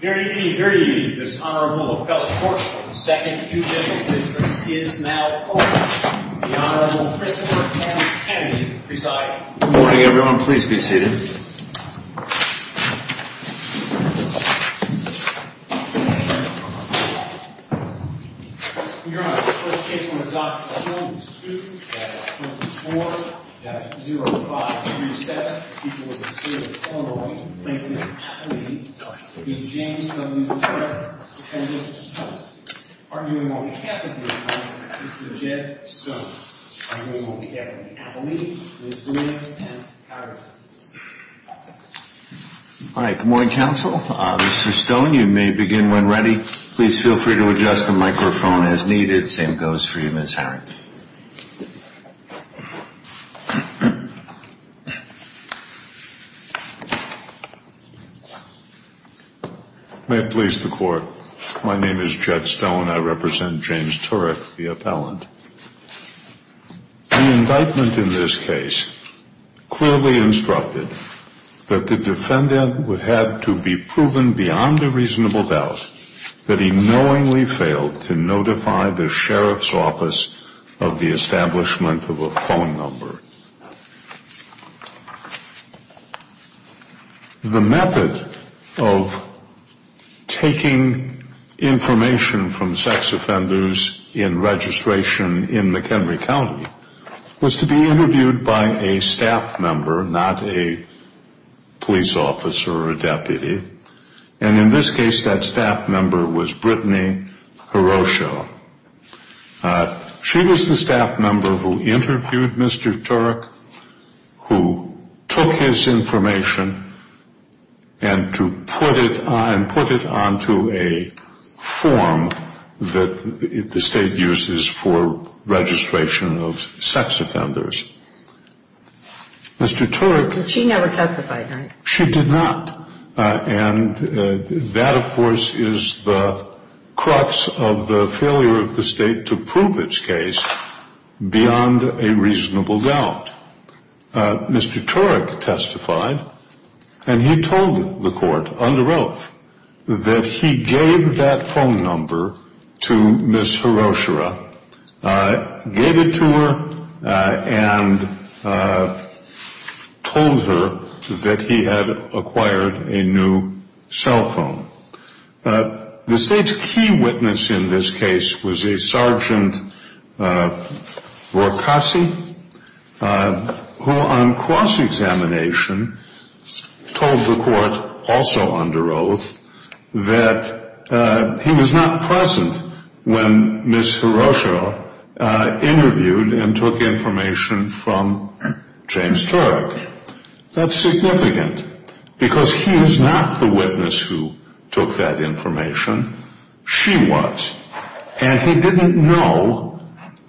Here to give you this honorable appellate court, the second judicial district is now open. The Honorable Christopher M. Kennedy presiding. Good morning everyone, please be seated. Your Honor, the first case on the docket still in dispute at 24-0537, people of the state of Illinois, plaintiffs, please meet James W. Turner, defendant. Arguing on behalf of the attorney, Mr. Jeff Stone. Arguing on behalf of the appellate, Ms. Lee, and Howard. All right, good morning counsel. Mr. Stone, you may begin when ready. Please feel free to adjust the microphone as needed. Same goes for you, Ms. Howard. May it please the court, my name is Jeff Stone, I represent James Turuc, the appellant. The indictment in this case clearly instructed that the defendant would have to be proven beyond a reasonable doubt that he knowingly failed to notify the sheriff's office of the establishment of a phone number. The method of taking information from sex offenders in registration in McHenry County was to be interviewed by a staff member, not a police officer or a deputy, and in this case that staff member was Brittany Horosho. She was the staff member who interviewed Mr. Turuc, who took his information and put it onto a form that the state uses for registration of sex offenders. Mr. Turuc... But she never testified, right? She did not, and that of course is the crux of the failure of the state to prove its case beyond a reasonable doubt. Mr. Turuc testified, and he told the court under oath that he gave that phone number to Ms. Horosho, gave it to her, and told her that he had acquired a new cell phone. The state's key witness in this case was a Sergeant Vorkasi, who on cross-examination told the court also under oath that he was not present when Ms. Horosho interviewed and took information from James Turuc. That's significant, because he is not the witness who took that information. She was, and he didn't know,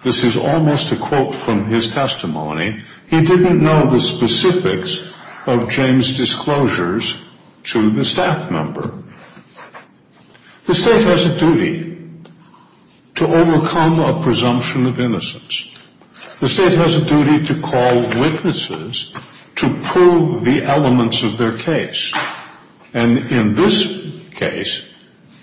this is almost a quote from his testimony, he didn't know the specifics of James' disclosures to the staff member. The state has a duty to overcome a presumption of innocence. The state has a duty to call witnesses to prove the elements of their case. And in this case,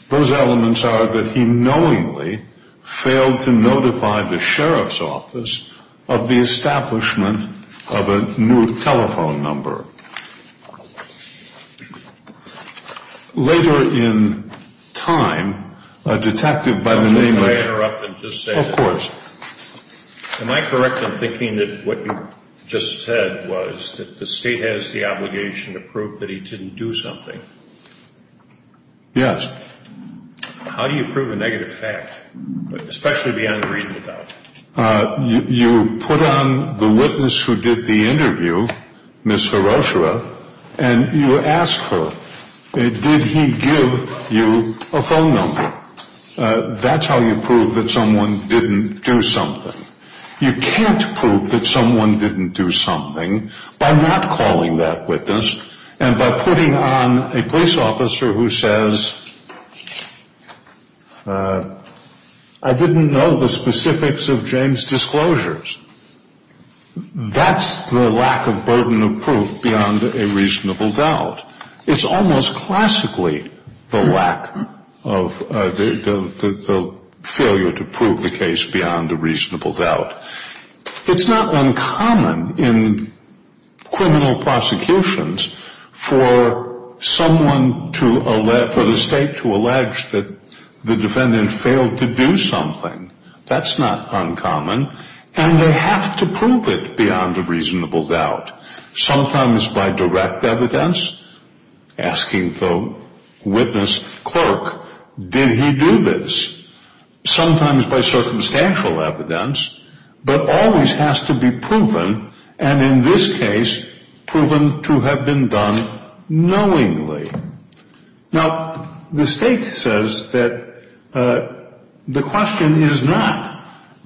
those elements are that he knowingly failed to notify the Sheriff's Office of the establishment of a new telephone number. Later in time, a detective by the name of... Am I correct in thinking that what you just said was that the state has the obligation to prove that he didn't do something? Yes. How do you prove a negative fact, especially beyond reading about it? You put on the witness who did the interview, Ms. Horosho, and you ask her, did he give you a phone number? That's how you prove that someone didn't do something. You can't prove that someone didn't do something by not calling that witness and by putting on a police officer who says, I didn't know the specifics of James' disclosures. That's the lack of burden of proof beyond a reasonable doubt. It's almost classically the lack of the failure to prove the case beyond a reasonable doubt. It's not uncommon in criminal prosecutions for someone to... for the state to allege that the defendant failed to do something. That's not uncommon. And they have to prove it beyond a reasonable doubt. Sometimes by direct evidence, asking the witness clerk, did he do this? Sometimes by circumstantial evidence, but always has to be proven, and in this case, proven to have been done knowingly. Now, the state says that the question is not,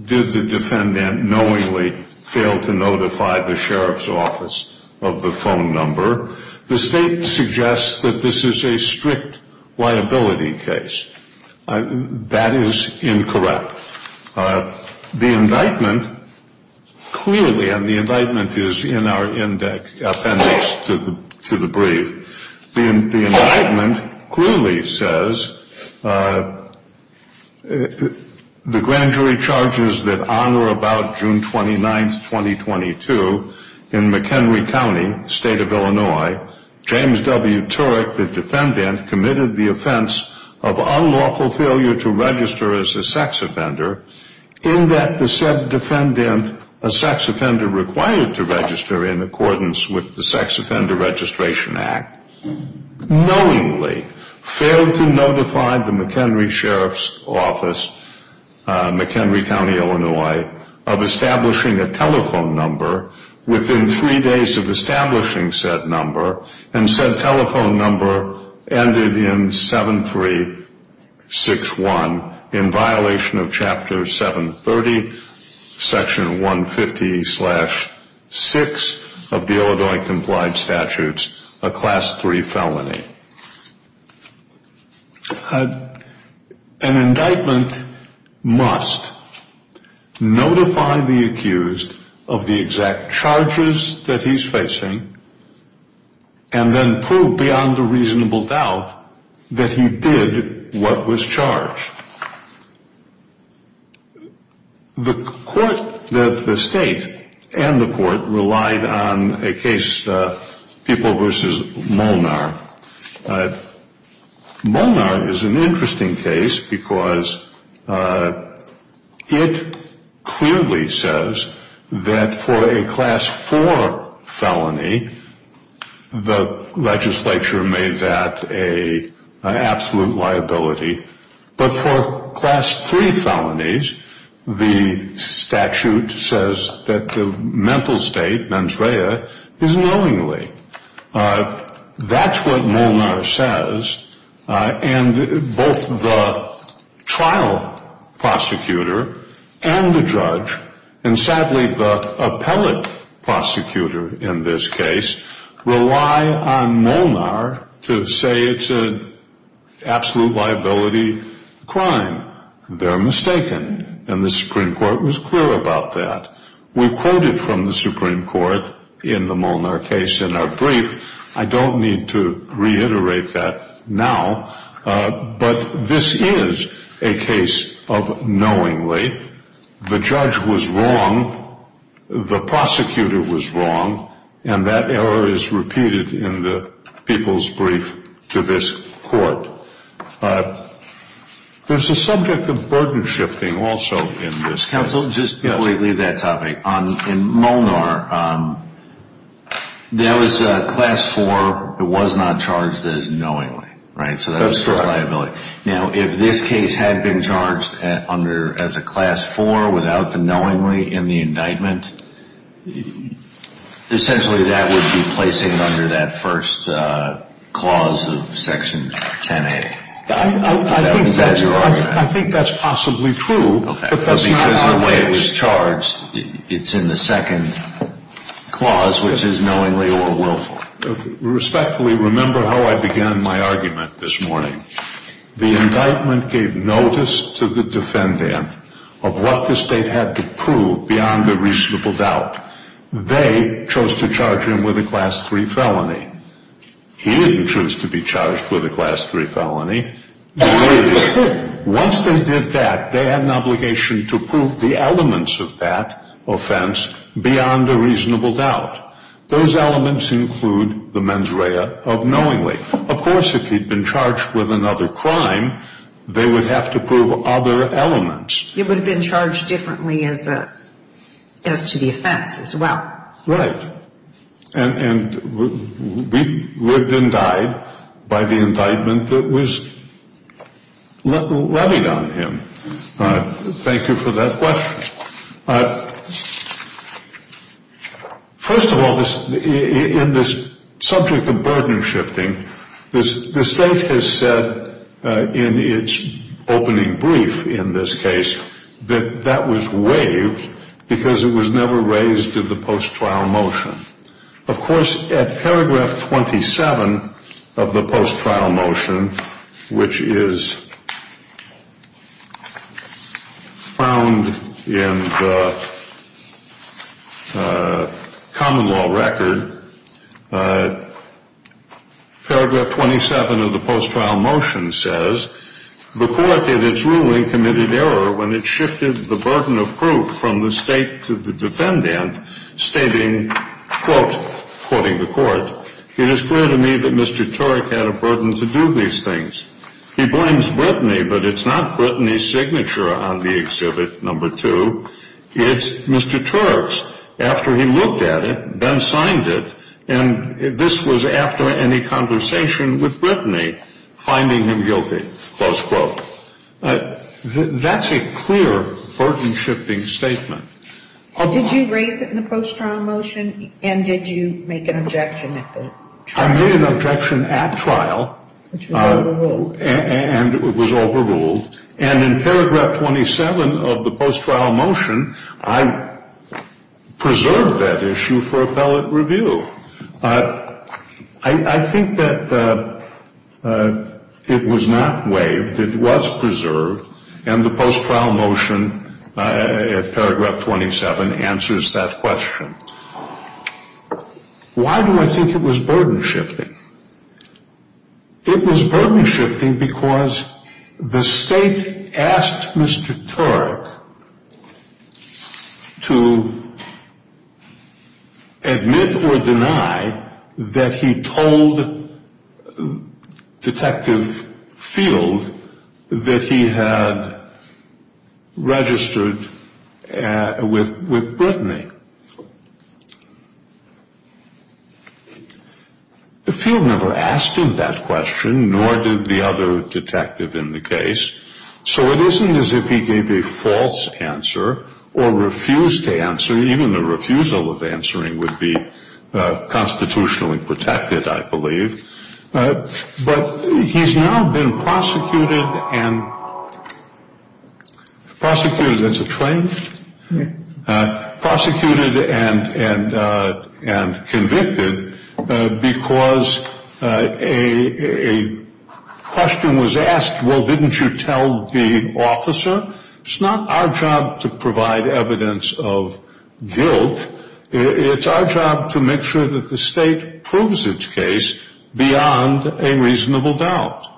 did the defendant knowingly fail to notify the sheriff's office of the phone number? The state suggests that this is a strict liability case. That is incorrect. The indictment clearly, and the indictment is in our appendix to the brief, the indictment clearly says, the grand jury charges that honor about June 29, 2022, in McHenry County, state of Illinois, James W. Turek, the defendant, committed the offense of unlawful failure to register as a sex offender, in that the said defendant, a sex offender required to register in accordance with the Sex Offender Registration Act, knowingly failed to notify the McHenry Sheriff's Office, McHenry County, Illinois, of establishing a telephone number within three days of establishing said number, and said telephone number ended in 7361, in violation of chapter 730, section 150 slash 6 of the Illinois complied statutes, a class 3 felony. An indictment must notify the accused of the exact charges that he's facing, and then prove beyond a reasonable doubt that he did what was charged. The court, the state and the court relied on a case, People v. Molnar. Molnar is an interesting case because it clearly says that for a class 4 felony, the legislature made that an absolute liability, but for class 3 felonies, the statute says that the mental state, mens rea, is knowingly. That's what Molnar says, and both the trial prosecutor and the judge, and sadly the appellate prosecutor in this case, rely on Molnar to say it's an absolute liability crime. They're mistaken, and the Supreme Court was clear about that. We quoted from the Supreme Court in the Molnar case in our brief. I don't need to reiterate that now, but this is a case of knowingly. The judge was wrong, the prosecutor was wrong, and that error is repeated in the People's brief to this court. There's a subject of burden shifting also in this case. Counsel, just before you leave that topic, in Molnar, that was class 4. It was not charged as knowingly, right? That's correct. Now, if this case had been charged as a class 4 without the knowingly in the indictment, essentially that would be placing it under that first clause of section 10A. I think that's possibly true, but that's not how it is. Because the way it was charged, it's in the second clause, which is knowingly or willful. Respectfully, remember how I began my argument this morning. The indictment gave notice to the defendant of what the state had to prove beyond a reasonable doubt. They chose to charge him with a class 3 felony. He didn't choose to be charged with a class 3 felony. Once they did that, they had an obligation to prove the elements of that offense beyond a reasonable doubt. Those elements include the mens rea of knowingly. Of course, if he'd been charged with another crime, they would have to prove other elements. He would have been charged differently as to the offense as well. Right. And we lived and died by the indictment that was levied on him. Thank you for that question. First of all, in this subject of burden shifting, the state has said in its opening brief, in this case, that that was waived because it was never raised to the post-trial motion. Of course, at paragraph 27 of the post-trial motion, which is found in the common law record, paragraph 27 of the post-trial motion says, The court in its ruling committed error when it shifted the burden of proof from the state to the defendant, stating, quote, quoting the court, It is clear to me that Mr. Turek had a burden to do these things. He blames Brittany, but it's not Brittany's signature on the exhibit number two. It's Mr. Turek's. After he looked at it, then signed it, and this was after any conversation with Brittany, finding him guilty, close quote. That's a clear burden shifting statement. Did you raise it in the post-trial motion? And did you make an objection at the trial? I made an objection at trial. Which was overruled. And it was overruled. And in paragraph 27 of the post-trial motion, I preserved that issue for appellate review. I think that it was not waived. It was preserved. And the post-trial motion at paragraph 27 answers that question. Why do I think it was burden shifting? It was burden shifting because the state asked Mr. Turek to admit or deny that he told Detective Field that he had registered with Brittany. Field never asked him that question, nor did the other detective in the case. So it isn't as if he gave a false answer or refused to answer. Even the refusal of answering would be constitutionally protected, I believe. But he's now been prosecuted and prosecuted as a train. Prosecuted and convicted because a question was asked, well, didn't you tell the officer? It's not our job to provide evidence of guilt. It's our job to make sure that the state proves its case beyond a reasonable doubt.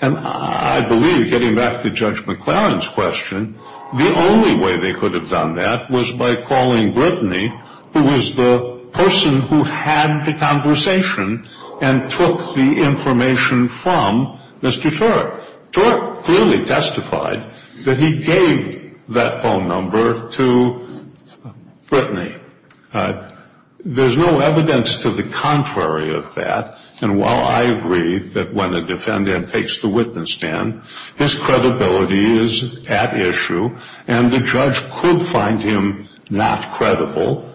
And I believe, getting back to Judge McLaren's question, the only way they could have done that was by calling Brittany, who was the person who had the conversation and took the information from Mr. Turek. Turek clearly testified that he gave that phone number to Brittany. There's no evidence to the contrary of that. And while I agree that when a defendant takes the witness stand, his credibility is at issue, and the judge could find him not credible.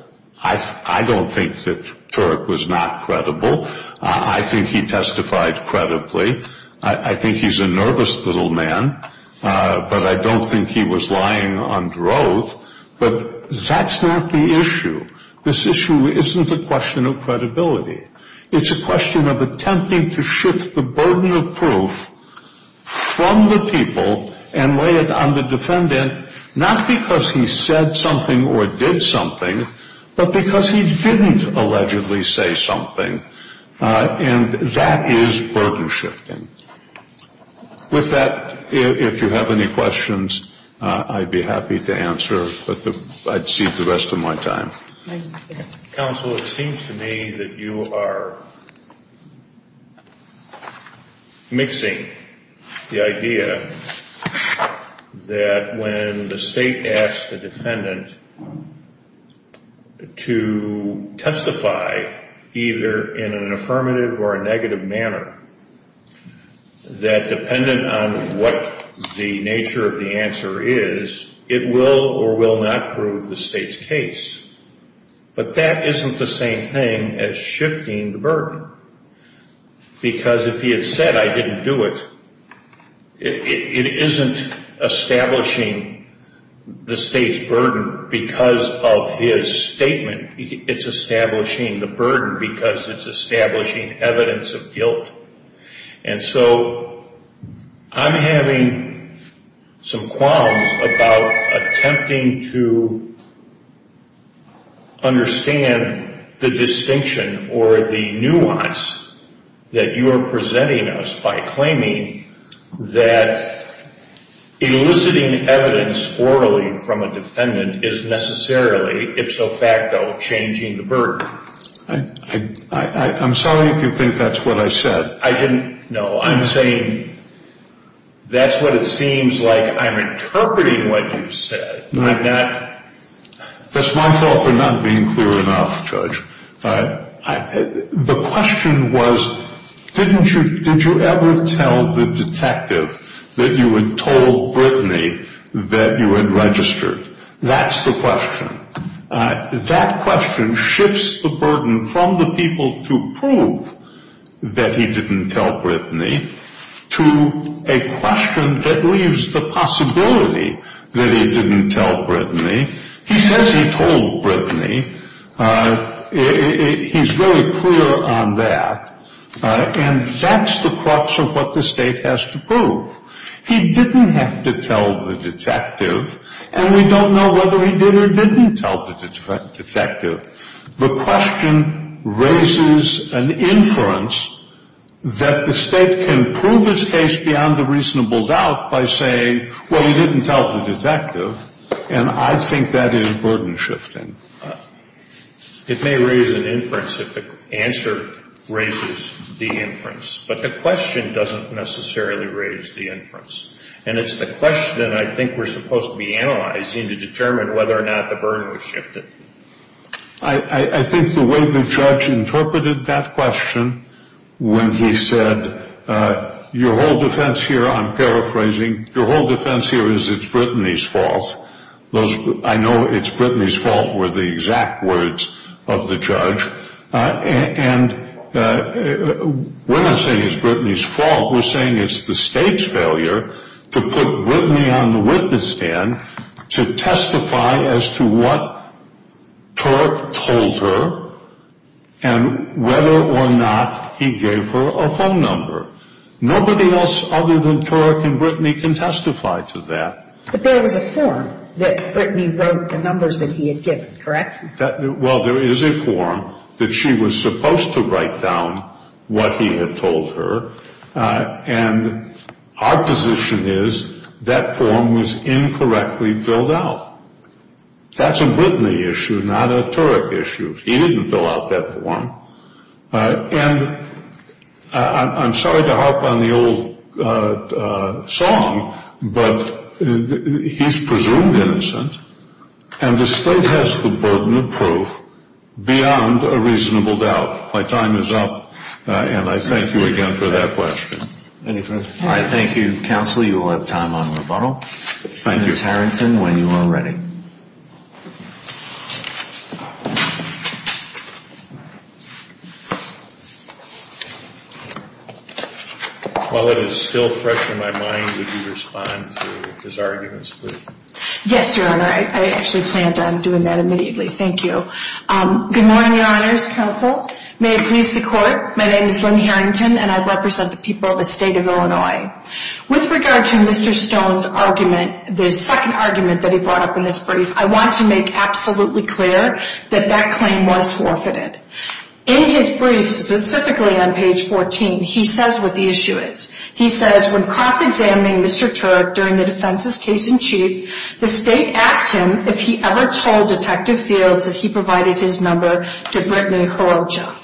I don't think that Turek was not credible. I think he testified credibly. I think he's a nervous little man, but I don't think he was lying under oath. But that's not the issue. This issue isn't a question of credibility. It's a question of attempting to shift the burden of proof from the people and lay it on the defendant, not because he said something or did something, but because he didn't allegedly say something. And that is burden shifting. With that, if you have any questions, I'd be happy to answer, but I'd cede the rest of my time. Counsel, it seems to me that you are mixing the idea that when the state asks the defendant to testify either in an affirmative or a negative manner, that dependent on what the nature of the answer is, it will or will not prove the state's case. But that isn't the same thing as shifting the burden, because if he had said, I didn't do it, it isn't establishing the state's burden because of his statement. It's establishing the burden because it's establishing evidence of guilt. And so I'm having some qualms about attempting to understand the distinction or the nuance that you are presenting us by claiming that eliciting evidence orally from a defendant is necessarily, if so facto, changing the burden. I'm sorry if you think that's what I said. No, I'm saying that's what it seems like I'm interpreting what you said. That's my fault for not being clear enough, Judge. The question was, did you ever tell the detective that you had told Brittany that you had registered? That's the question. That question shifts the burden from the people to prove that he didn't tell Brittany to a question that leaves the possibility that he didn't tell Brittany. He says he told Brittany. He's really clear on that. And that's the crux of what the state has to prove. He didn't have to tell the detective. And we don't know whether he did or didn't tell the detective. The question raises an inference that the State can prove its case beyond a reasonable doubt by saying, well, he didn't tell the detective. And I think that is burden shifting. It may raise an inference if the answer raises the inference. But the question doesn't necessarily raise the inference. And it's the question I think we're supposed to be analyzing to determine whether or not the burden was shifted. I think the way the judge interpreted that question when he said, your whole defense here, I'm paraphrasing, your whole defense here is it's Brittany's fault. I know it's Brittany's fault were the exact words of the judge. And we're not saying it's Brittany's fault. We're saying it's the State's failure to put Brittany on the witness stand to testify as to what Turek told her and whether or not he gave her a phone number. Nobody else other than Turek and Brittany can testify to that. But there was a form that Brittany wrote the numbers that he had given, correct? Well, there is a form that she was supposed to write down what he had told her. And our position is that form was incorrectly filled out. That's a Brittany issue, not a Turek issue. He didn't fill out that form. And I'm sorry to harp on the old song, but he's presumed innocent. And the State has the burden of proof beyond a reasonable doubt. My time is up. And I thank you again for that question. Any further questions? All right. Thank you, counsel. You will have time on rebuttal. Thank you. Ms. Harrington, when you are ready. While it is still fresh in my mind, would you respond to his arguments, please? Yes, Your Honor. I actually planned on doing that immediately. Thank you. Good morning, Your Honors. Counsel. May it please the Court. My name is Lynn Harrington, and I represent the people of the State of Illinois. With regard to Mr. Stone's argument, the second argument that he brought up in his brief, I want to make absolutely clear that that claim was forfeited. In his brief, specifically on page 14, he says what the issue is. He says, when cross-examining Mr. Turk during the defense's case in chief, the State asked him if he ever told Detective Fields that he provided his number to Brittany Kurocha.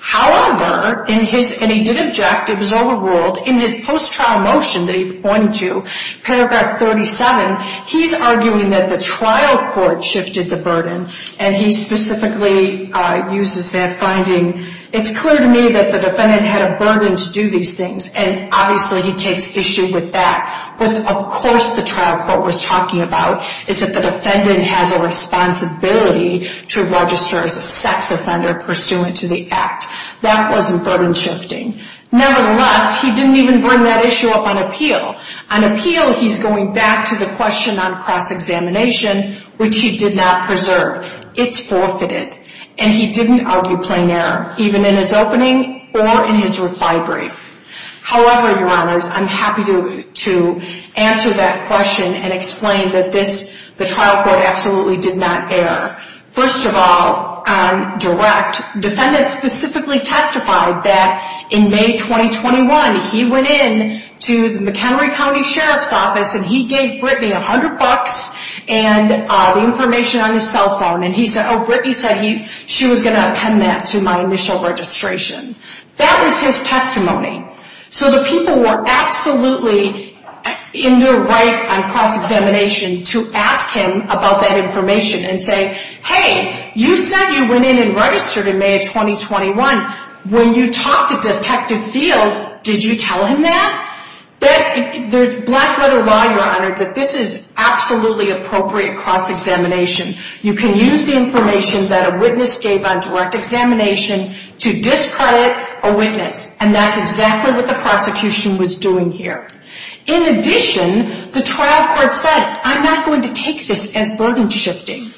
However, and he did object, it was overruled, in his post-trial motion that he pointed to, paragraph 37, he's arguing that the trial court shifted the burden, and he specifically uses that finding. It's clear to me that the defendant had a burden to do these things, and obviously he takes issue with that, but of course the trial court was talking about is that the defendant has a responsibility to register as a sex offender pursuant to the act. That wasn't burden shifting. Nevertheless, he didn't even bring that issue up on appeal. On appeal, he's going back to the question on cross-examination, which he did not preserve. It's forfeited, and he didn't argue plain error, even in his opening or in his reply brief. However, Your Honors, I'm happy to answer that question and explain that the trial court absolutely did not err. First of all, on direct, defendant specifically testified that in May 2021, he went in to the McHenry County Sheriff's Office, and he gave Brittany 100 bucks and information on his cell phone, and he said, oh, Brittany said she was going to append that to my initial registration. That was his testimony. So the people were absolutely in their right on cross-examination to ask him about that information and say, hey, you said you went in and registered in May of 2021. When you talked to Detective Fields, did you tell him that? The black letter law, Your Honor, that this is absolutely appropriate cross-examination. You can use the information that a witness gave on direct examination to discredit a witness, and that's exactly what the prosecution was doing here. In addition, the trial court said, I'm not going to take this as burden shifting.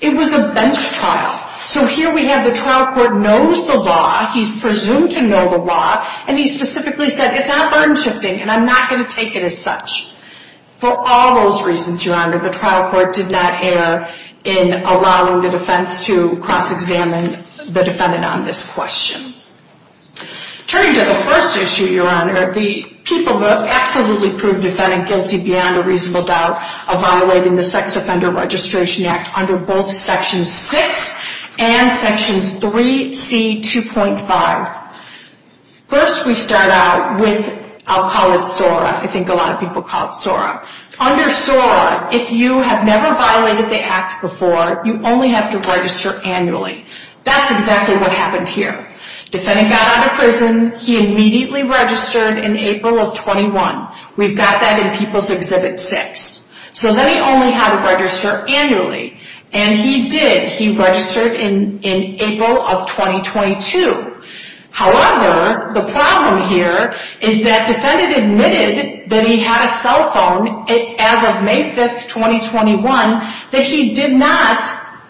It was a bench trial. So here we have the trial court knows the law. He's presumed to know the law, and he specifically said, it's not burden shifting, and I'm not going to take it as such. For all those reasons, Your Honor, the trial court did not err in allowing the defense to cross-examine the defendant on this question. Turning to the first issue, Your Honor, the people who have absolutely proved defendant guilty beyond a reasonable doubt of violating the Sex Offender Registration Act under both Section 6 and Sections 3C, 2.5. First, we start out with, I'll call it SORA. I think a lot of people call it SORA. Under SORA, if you have never violated the act before, you only have to register annually. That's exactly what happened here. Defendant got out of prison. He immediately registered in April of 21. We've got that in People's Exhibit 6. So then he only had to register annually, and he did. He registered in April of 2022. However, the problem here is that defendant admitted that he had a cell phone as of May 5, 2021, that he did not,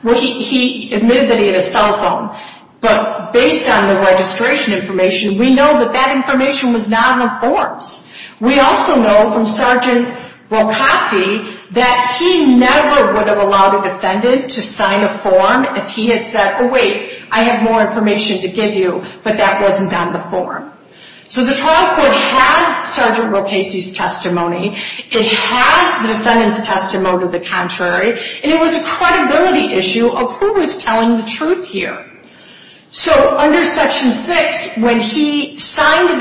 well, he admitted that he had a cell phone, but based on the registration information, we know that that information was not on the forms. We also know from Sgt. Rocasi that he never would have allowed a defendant to sign a form if he had said, oh, wait, I have more information to give you, but that wasn't on the form. So the trial court had Sgt. Rocasi's testimony. It had the defendant's testimony to the contrary, and it was a credibility issue of who was telling the truth here. So under Section 6, when he signed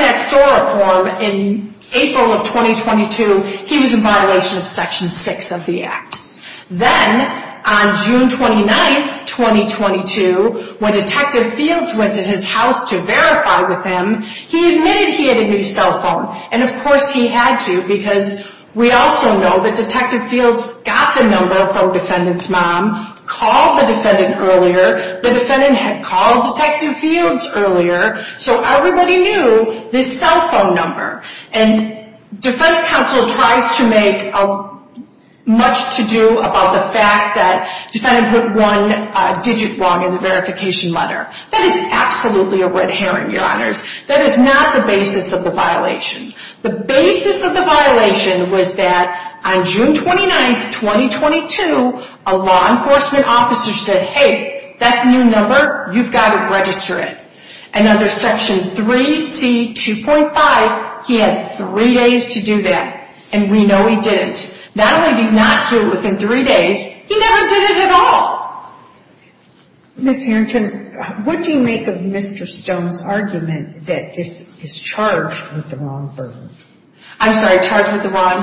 that SORA form in April of 2022, he was in violation of Section 6 of the act. Then on June 29, 2022, when Detective Fields went to his house to verify with him, he admitted he had a new cell phone, and of course he had to, because we also know that Detective Fields got the number from defendant's mom, called the defendant earlier. The defendant had called Detective Fields earlier, so everybody knew this cell phone number. And defense counsel tries to make much to do about the fact that defendant put one digit wrong in the verification letter. That is absolutely a red herring, Your Honors. That is not the basis of the violation. The basis of the violation was that on June 29, 2022, a law enforcement officer said, hey, that's a new number, you've got to register it. And under Section 3C2.5, he had three days to do that, and we know he didn't. Not only did he not do it within three days, he never did it at all. Ms. Harrington, what do you make of Mr. Stone's argument that this is charged with the wrong burden? I'm sorry, charged with the wrong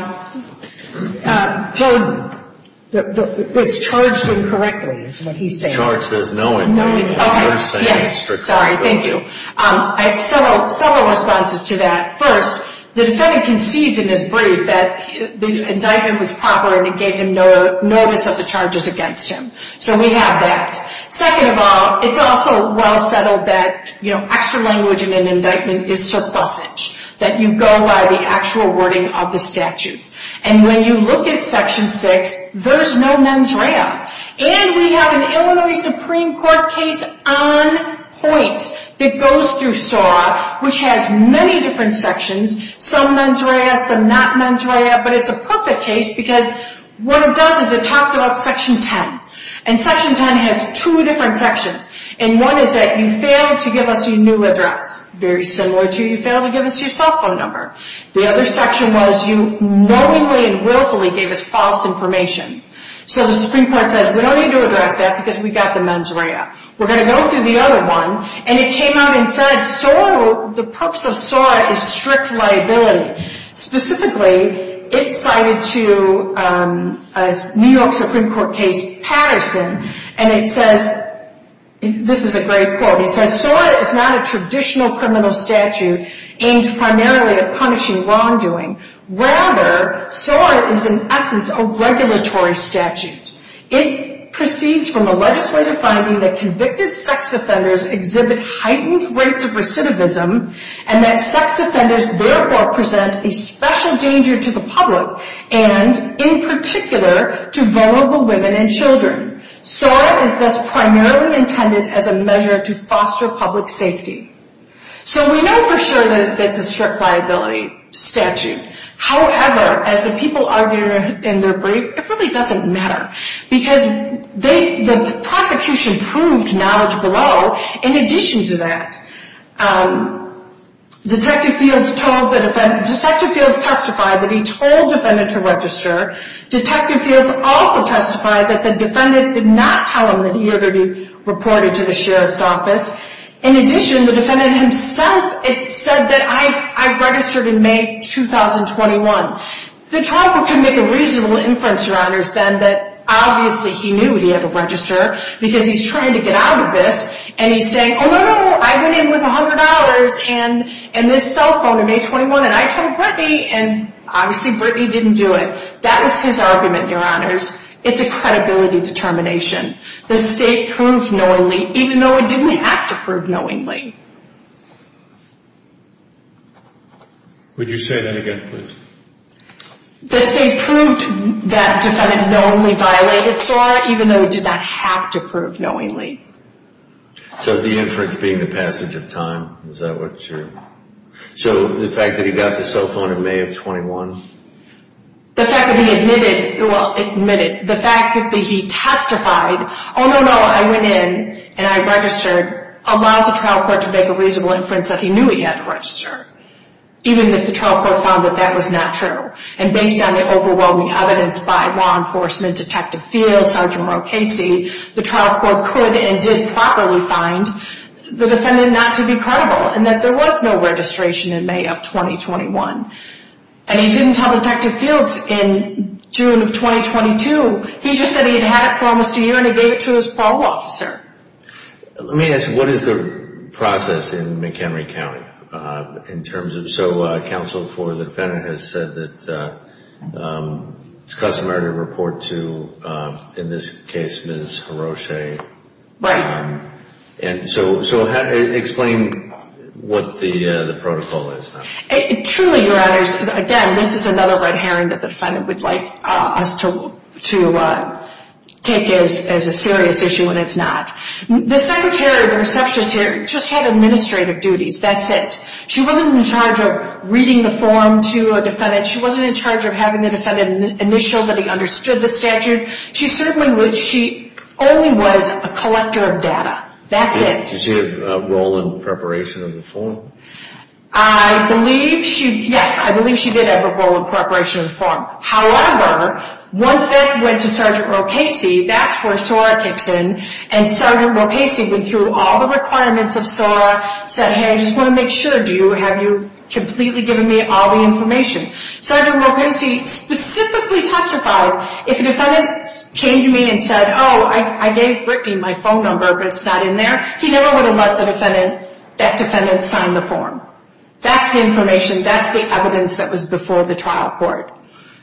burden? It's charged incorrectly, is what he's saying. It's charged as knowing. Knowing. Yes, sorry, thank you. I have several responses to that. First, the defendant concedes in his brief that the indictment was proper and it gave him notice of the charges against him. So we have that. Second of all, it's also well settled that extra language in an indictment is surplusage. That you go by the actual wording of the statute. And when you look at Section 6, there's no mens rea. And we have an Illinois Supreme Court case on point that goes through SOAR, which has many different sections. Some mens rea, some not mens rea, but it's a perfect case because what it does is it talks about Section 10. And Section 10 has two different sections. And one is that you failed to give us your new address. Very similar to you failed to give us your cell phone number. The other section was you knowingly and willfully gave us false information. So the Supreme Court says we don't need to address that because we got the mens rea. We're going to go through the other one. And it came out and said SOAR, the purpose of SOAR is strict liability. Specifically, it cited to a New York Supreme Court case Patterson. And it says, this is a great quote. It says, SOAR is not a traditional criminal statute aimed primarily at punishing wrongdoing. Rather, SOAR is in essence a regulatory statute. It proceeds from a legislative finding that convicted sex offenders exhibit heightened rates of recidivism. And that sex offenders therefore present a special danger to the public. And in particular, to vulnerable women and children. SOAR is thus primarily intended as a measure to foster public safety. So we know for sure that it's a strict liability statute. However, as the people argue in their brief, it really doesn't matter. Because the prosecution proved knowledge below. In addition to that, Detective Fields testified that he told the defendant to register. Detective Fields also testified that the defendant did not tell him that he reported to the sheriff's office. In addition, the defendant himself said that I registered in May 2021. The trial could make a reasonable inference, Your Honors, that obviously he knew he had to register. Because he's trying to get out of this. And he's saying, oh no, no, no, I went in with $100 and this cell phone in May 21. And I told Brittany and obviously Brittany didn't do it. That was his argument, Your Honors. It's a credibility determination. The state proved knowingly, even though it didn't have to prove knowingly. Would you say that again, please? The state proved that the defendant knowingly violated SOAR, even though it did not have to prove knowingly. So the inference being the passage of time, is that what you're – so the fact that he got the cell phone in May of 21? The fact that he admitted – well, admitted – the fact that he testified, oh no, no, I went in and I registered, allows the trial court to make a reasonable inference that he knew he had to register. Even if the trial court found that that was not true. And based on the overwhelming evidence by law enforcement, Detective Fields, Sergeant Rowe Casey, the trial court could and did properly find the defendant not to be credible. And that there was no registration in May of 2021. And he didn't tell Detective Fields in June of 2022. He just said he'd had it for almost a year and he gave it to his parole officer. Let me ask, what is the process in McHenry County? In terms of – so counsel for the defendant has said that it's customary to report to, in this case, Ms. Hiroshi. Right. And so explain what the protocol is. Truly, Your Honors, again, this is another red herring that the defendant would like us to take as a serious issue when it's not. The secretary, the receptionist here, just had administrative duties. That's it. She wasn't in charge of reading the form to a defendant. She wasn't in charge of having the defendant initial that he understood the statute. She certainly would – she only was a collector of data. That's it. Did she have a role in preparation of the form? I believe she – yes, I believe she did have a role in preparation of the form. However, once that went to Sgt. Rokasi, that's where SORA kicks in. And Sgt. Rokasi went through all the requirements of SORA, said, hey, I just want to make sure. Do you – have you completely given me all the information? Sgt. Rokasi specifically testified if a defendant came to me and said, oh, I gave Brittany my phone number but it's not in there, he never would have let the defendant – that defendant sign the form. That's the information. That's the evidence that was before the trial court.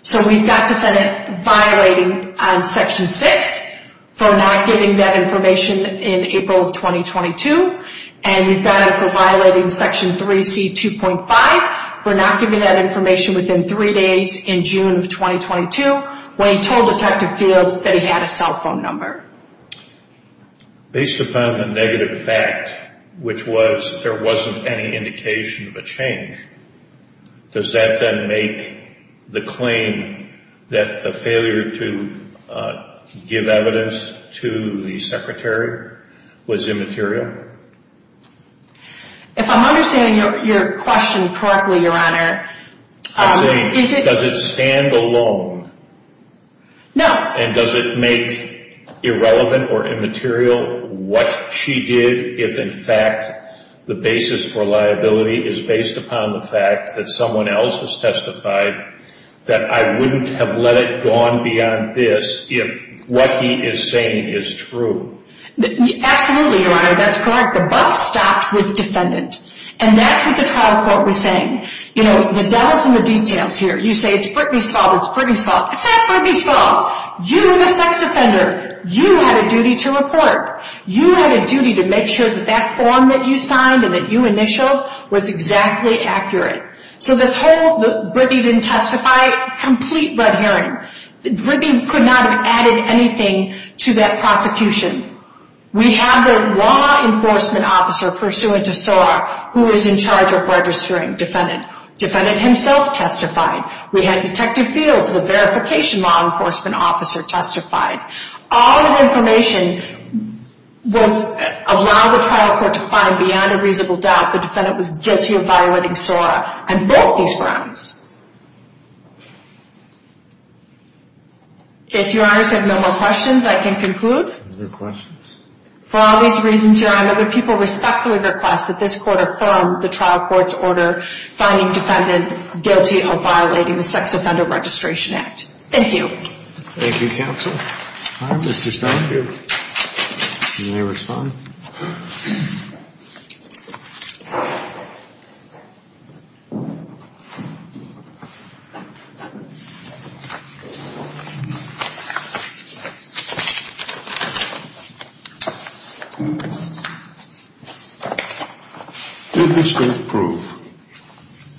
So we've got defendant violating on Section 6 for not giving that information in April of 2022. And we've got him for violating Section 3C2.5 for not giving that information within three days in June of 2022 when he told Detective Fields that he had a cell phone number. Based upon the negative fact, which was there wasn't any indication of a change, does that then make the claim that the failure to give evidence to the Secretary was immaterial? If I'm understanding your question correctly, Your Honor, is it – Does it stand alone? No. And does it make irrelevant or immaterial what she did if, in fact, the basis for liability is based upon the fact that someone else has testified that I wouldn't have let it go on beyond this if what he is saying is true? Absolutely, Your Honor. That's correct. The buck stopped with defendant. And that's what the trial court was saying. You know, the devil's in the details here. You say it's Brittany's fault, it's Brittany's fault. It's not Brittany's fault. You, the sex offender, you had a duty to report. You had a duty to make sure that that form that you signed and that you initialed was exactly accurate. So this whole Brittany didn't testify, complete blood hearing. Brittany could not have added anything to that prosecution. We have the law enforcement officer pursuant to SOAR who is in charge of registering defendant. Defendant himself testified. We had Detective Fields, the verification law enforcement officer, testified. All of the information was allowed the trial court to find beyond a reasonable doubt the defendant was guilty of violating SOAR and both these grounds. If Your Honors have no more questions, I can conclude. Are there questions? For all these reasons, Your Honor, would people respectfully request that this court affirm the trial court's order finding defendant guilty of violating the Sex Offender Registration Act? Thank you. Thank you, counsel. Mr. Stone, you may respond. Did the state prove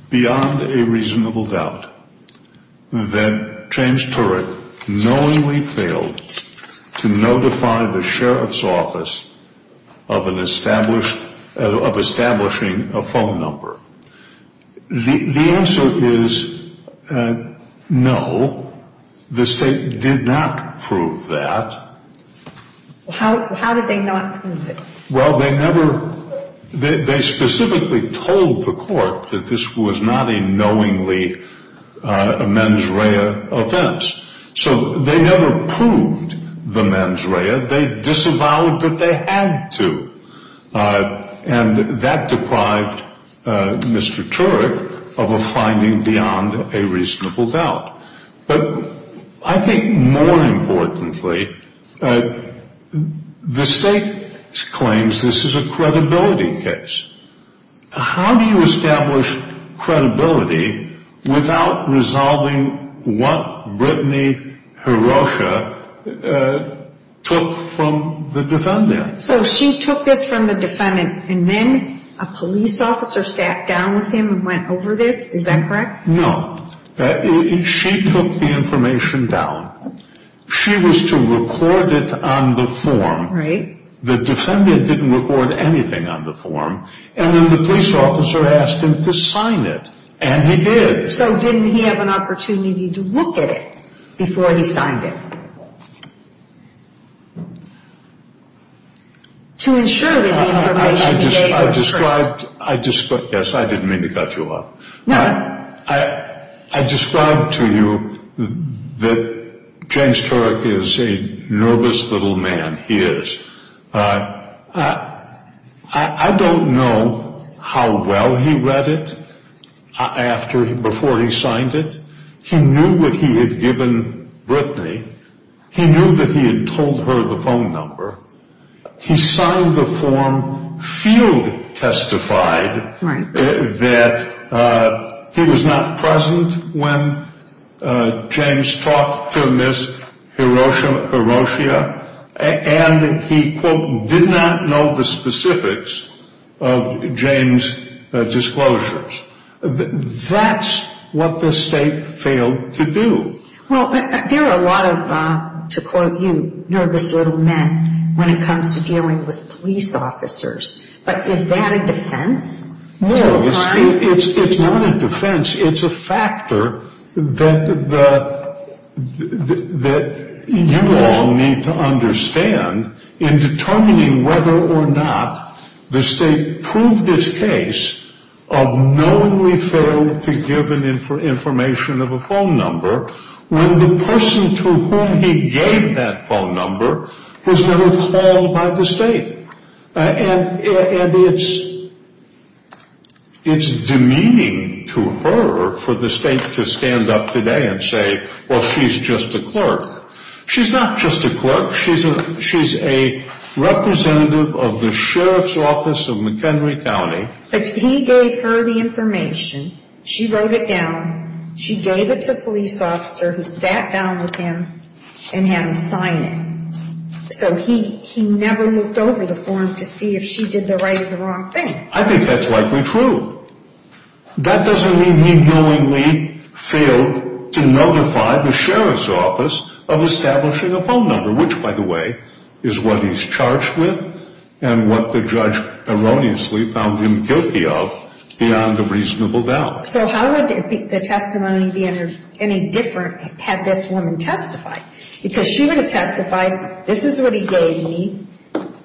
beyond a reasonable doubt that James Turek knowingly failed to notify the sheriff's office of establishing a phone number? The answer is no. The state did not prove that. How did they not prove it? Well, they never – they specifically told the court that this was not a knowingly mens rea offense. So they never proved the mens rea. They disavowed that they had to. And that deprived Mr. Turek of a finding beyond a reasonable doubt. But I think more importantly, the state claims this is a credibility case. How do you establish credibility without resolving what Brittany Hirosha took from the defendant? So she took this from the defendant and then a police officer sat down with him and went over this? Is that correct? No. She took the information down. She was to record it on the form. Right. The defendant didn't record anything on the form. And then the police officer asked him to sign it. And he did. So didn't he have an opportunity to look at it before he signed it to ensure that the information he gave was true? I described – yes, I didn't mean to cut you off. I described to you that James Turek is a nervous little man. He is. I don't know how well he read it before he signed it. He knew what he had given Brittany. He knew that he had told her the phone number. He signed the form, field testified that he was not present when James talked to Ms. Hiroshia, and he, quote, did not know the specifics of James' disclosures. That's what the state failed to do. Well, there are a lot of, to quote you, nervous little men when it comes to dealing with police officers. But is that a defense? No. It's not a defense. It's a factor that you all need to understand in determining whether or not the state proved its case of knowingly failing to give information of a phone number when the person to whom he gave that phone number was never called by the state. And it's demeaning to her for the state to stand up today and say, well, she's just a clerk. She's not just a clerk. She's a representative of the Sheriff's Office of McHenry County. He gave her the information. She wrote it down. She gave it to a police officer who sat down with him and had him sign it. So he never looked over the form to see if she did the right or the wrong thing. I think that's likely true. That doesn't mean he knowingly failed to notify the Sheriff's Office of establishing a phone number, which, by the way, is what he's charged with and what the judge erroneously found him guilty of beyond a reasonable doubt. So how would the testimony be any different had this woman testified? Because she would have testified, this is what he gave me.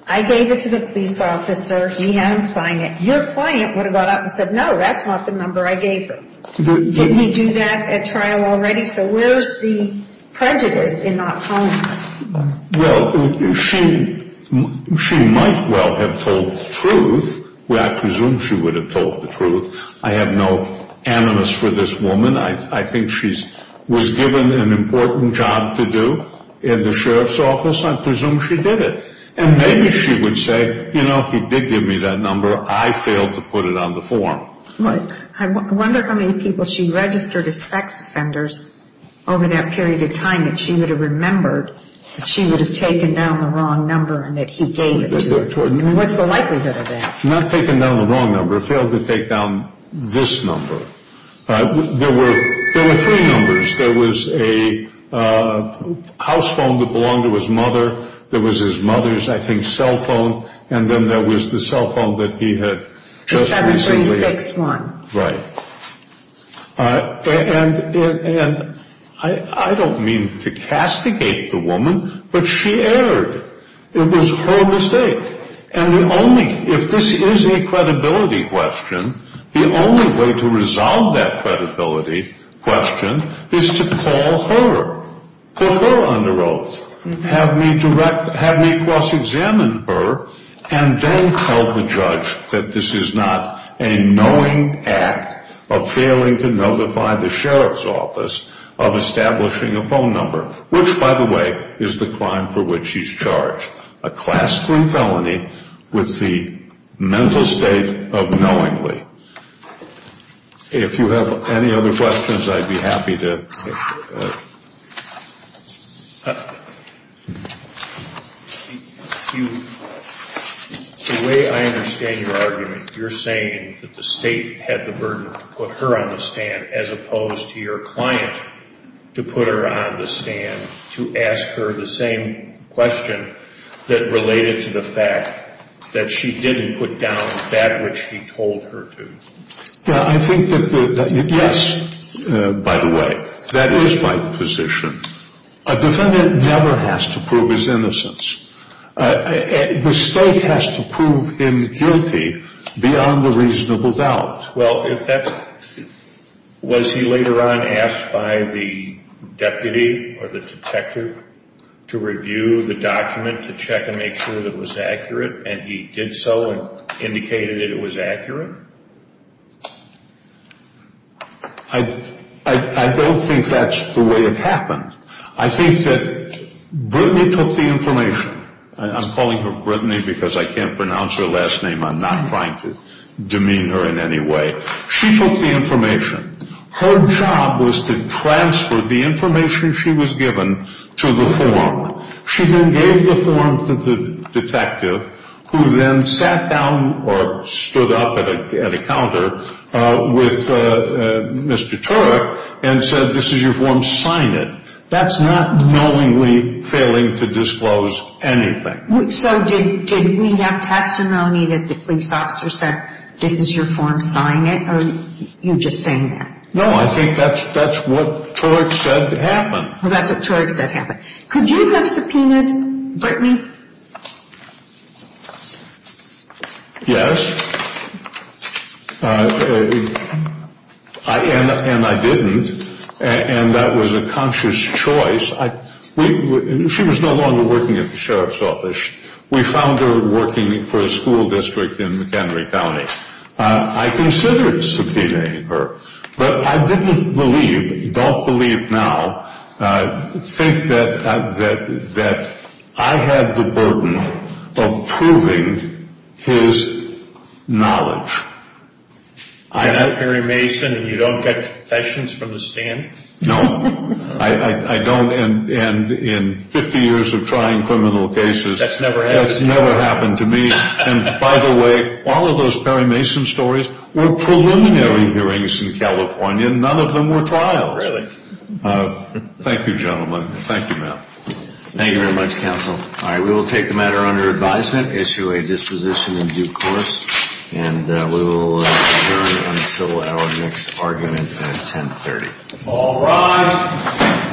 I gave it to the police officer. He had him sign it. Your client would have gone out and said, no, that's not the number I gave her. Didn't he do that at trial already? So where's the prejudice in not calling her? Well, she might well have told the truth. I presume she would have told the truth. I have no animus for this woman. I think she was given an important job to do in the Sheriff's Office. I presume she did it. And maybe she would say, you know, he did give me that number. I failed to put it on the form. I wonder how many people she registered as sex offenders over that period of time that she would have remembered that she would have taken down the wrong number and that he gave it to her. What's the likelihood of that? Not taken down the wrong number. Failed to take down this number. There were three numbers. There was a house phone that belonged to his mother. There was his mother's, I think, cell phone. And then there was the cell phone that he had just recently. The 7361. Right. And I don't mean to castigate the woman, but she erred. It was her mistake. And the only, if this is a credibility question, the only way to resolve that credibility question is to call her, put her under oath, have me cross-examine her, and then tell the judge that this is not a knowing act of failing to notify the Sheriff's Office of establishing a phone number, which, by the way, is the crime for which she's charged. A classroom felony with the mental state of knowingly. If you have any other questions, I'd be happy to. The way I understand your argument, you're saying that the state had the burden to put her on the stand as opposed to your client to put her on the stand to ask her the same question that related to the fact that she didn't put down that which he told her to. I think that, yes, by the way, that is my position. A defendant never has to prove his innocence. The state has to prove him guilty beyond a reasonable doubt. Well, if that's, was he later on asked by the deputy or the detective to review the document to check and make sure that it was accurate, and he did so and indicated that it was accurate? I don't think that's the way it happened. I think that Brittany took the information. I'm calling her Brittany because I can't pronounce her last name. I'm not trying to demean her in any way. She took the information. Her job was to transfer the information she was given to the form. She then gave the form to the detective, who then sat down or stood up at a counter with Mr. Turek and said, this is your form, sign it. That's not knowingly failing to disclose anything. So did we have testimony that the police officer said, this is your form, sign it? Or are you just saying that? No, I think that's what Turek said happened. Well, that's what Turek said happened. Could you have subpoenaed Brittany? Yes. And I didn't. And that was a conscious choice. She was no longer working at the sheriff's office. We found her working for a school district in McHenry County. I considered subpoenaing her, but I didn't believe, don't believe now, think that I had the burden of proving his knowledge. You're Perry Mason and you don't get confessions from the stand? No, I don't. And in 50 years of trying criminal cases, that's never happened to me. And by the way, all of those Perry Mason stories were preliminary hearings in California. None of them were trials. Really? Thank you, gentlemen. Thank you, ma'am. Thank you very much, counsel. All right, we will take the matter under advisement, issue a disposition in due course, and we will adjourn until our next argument at 1030. All rise.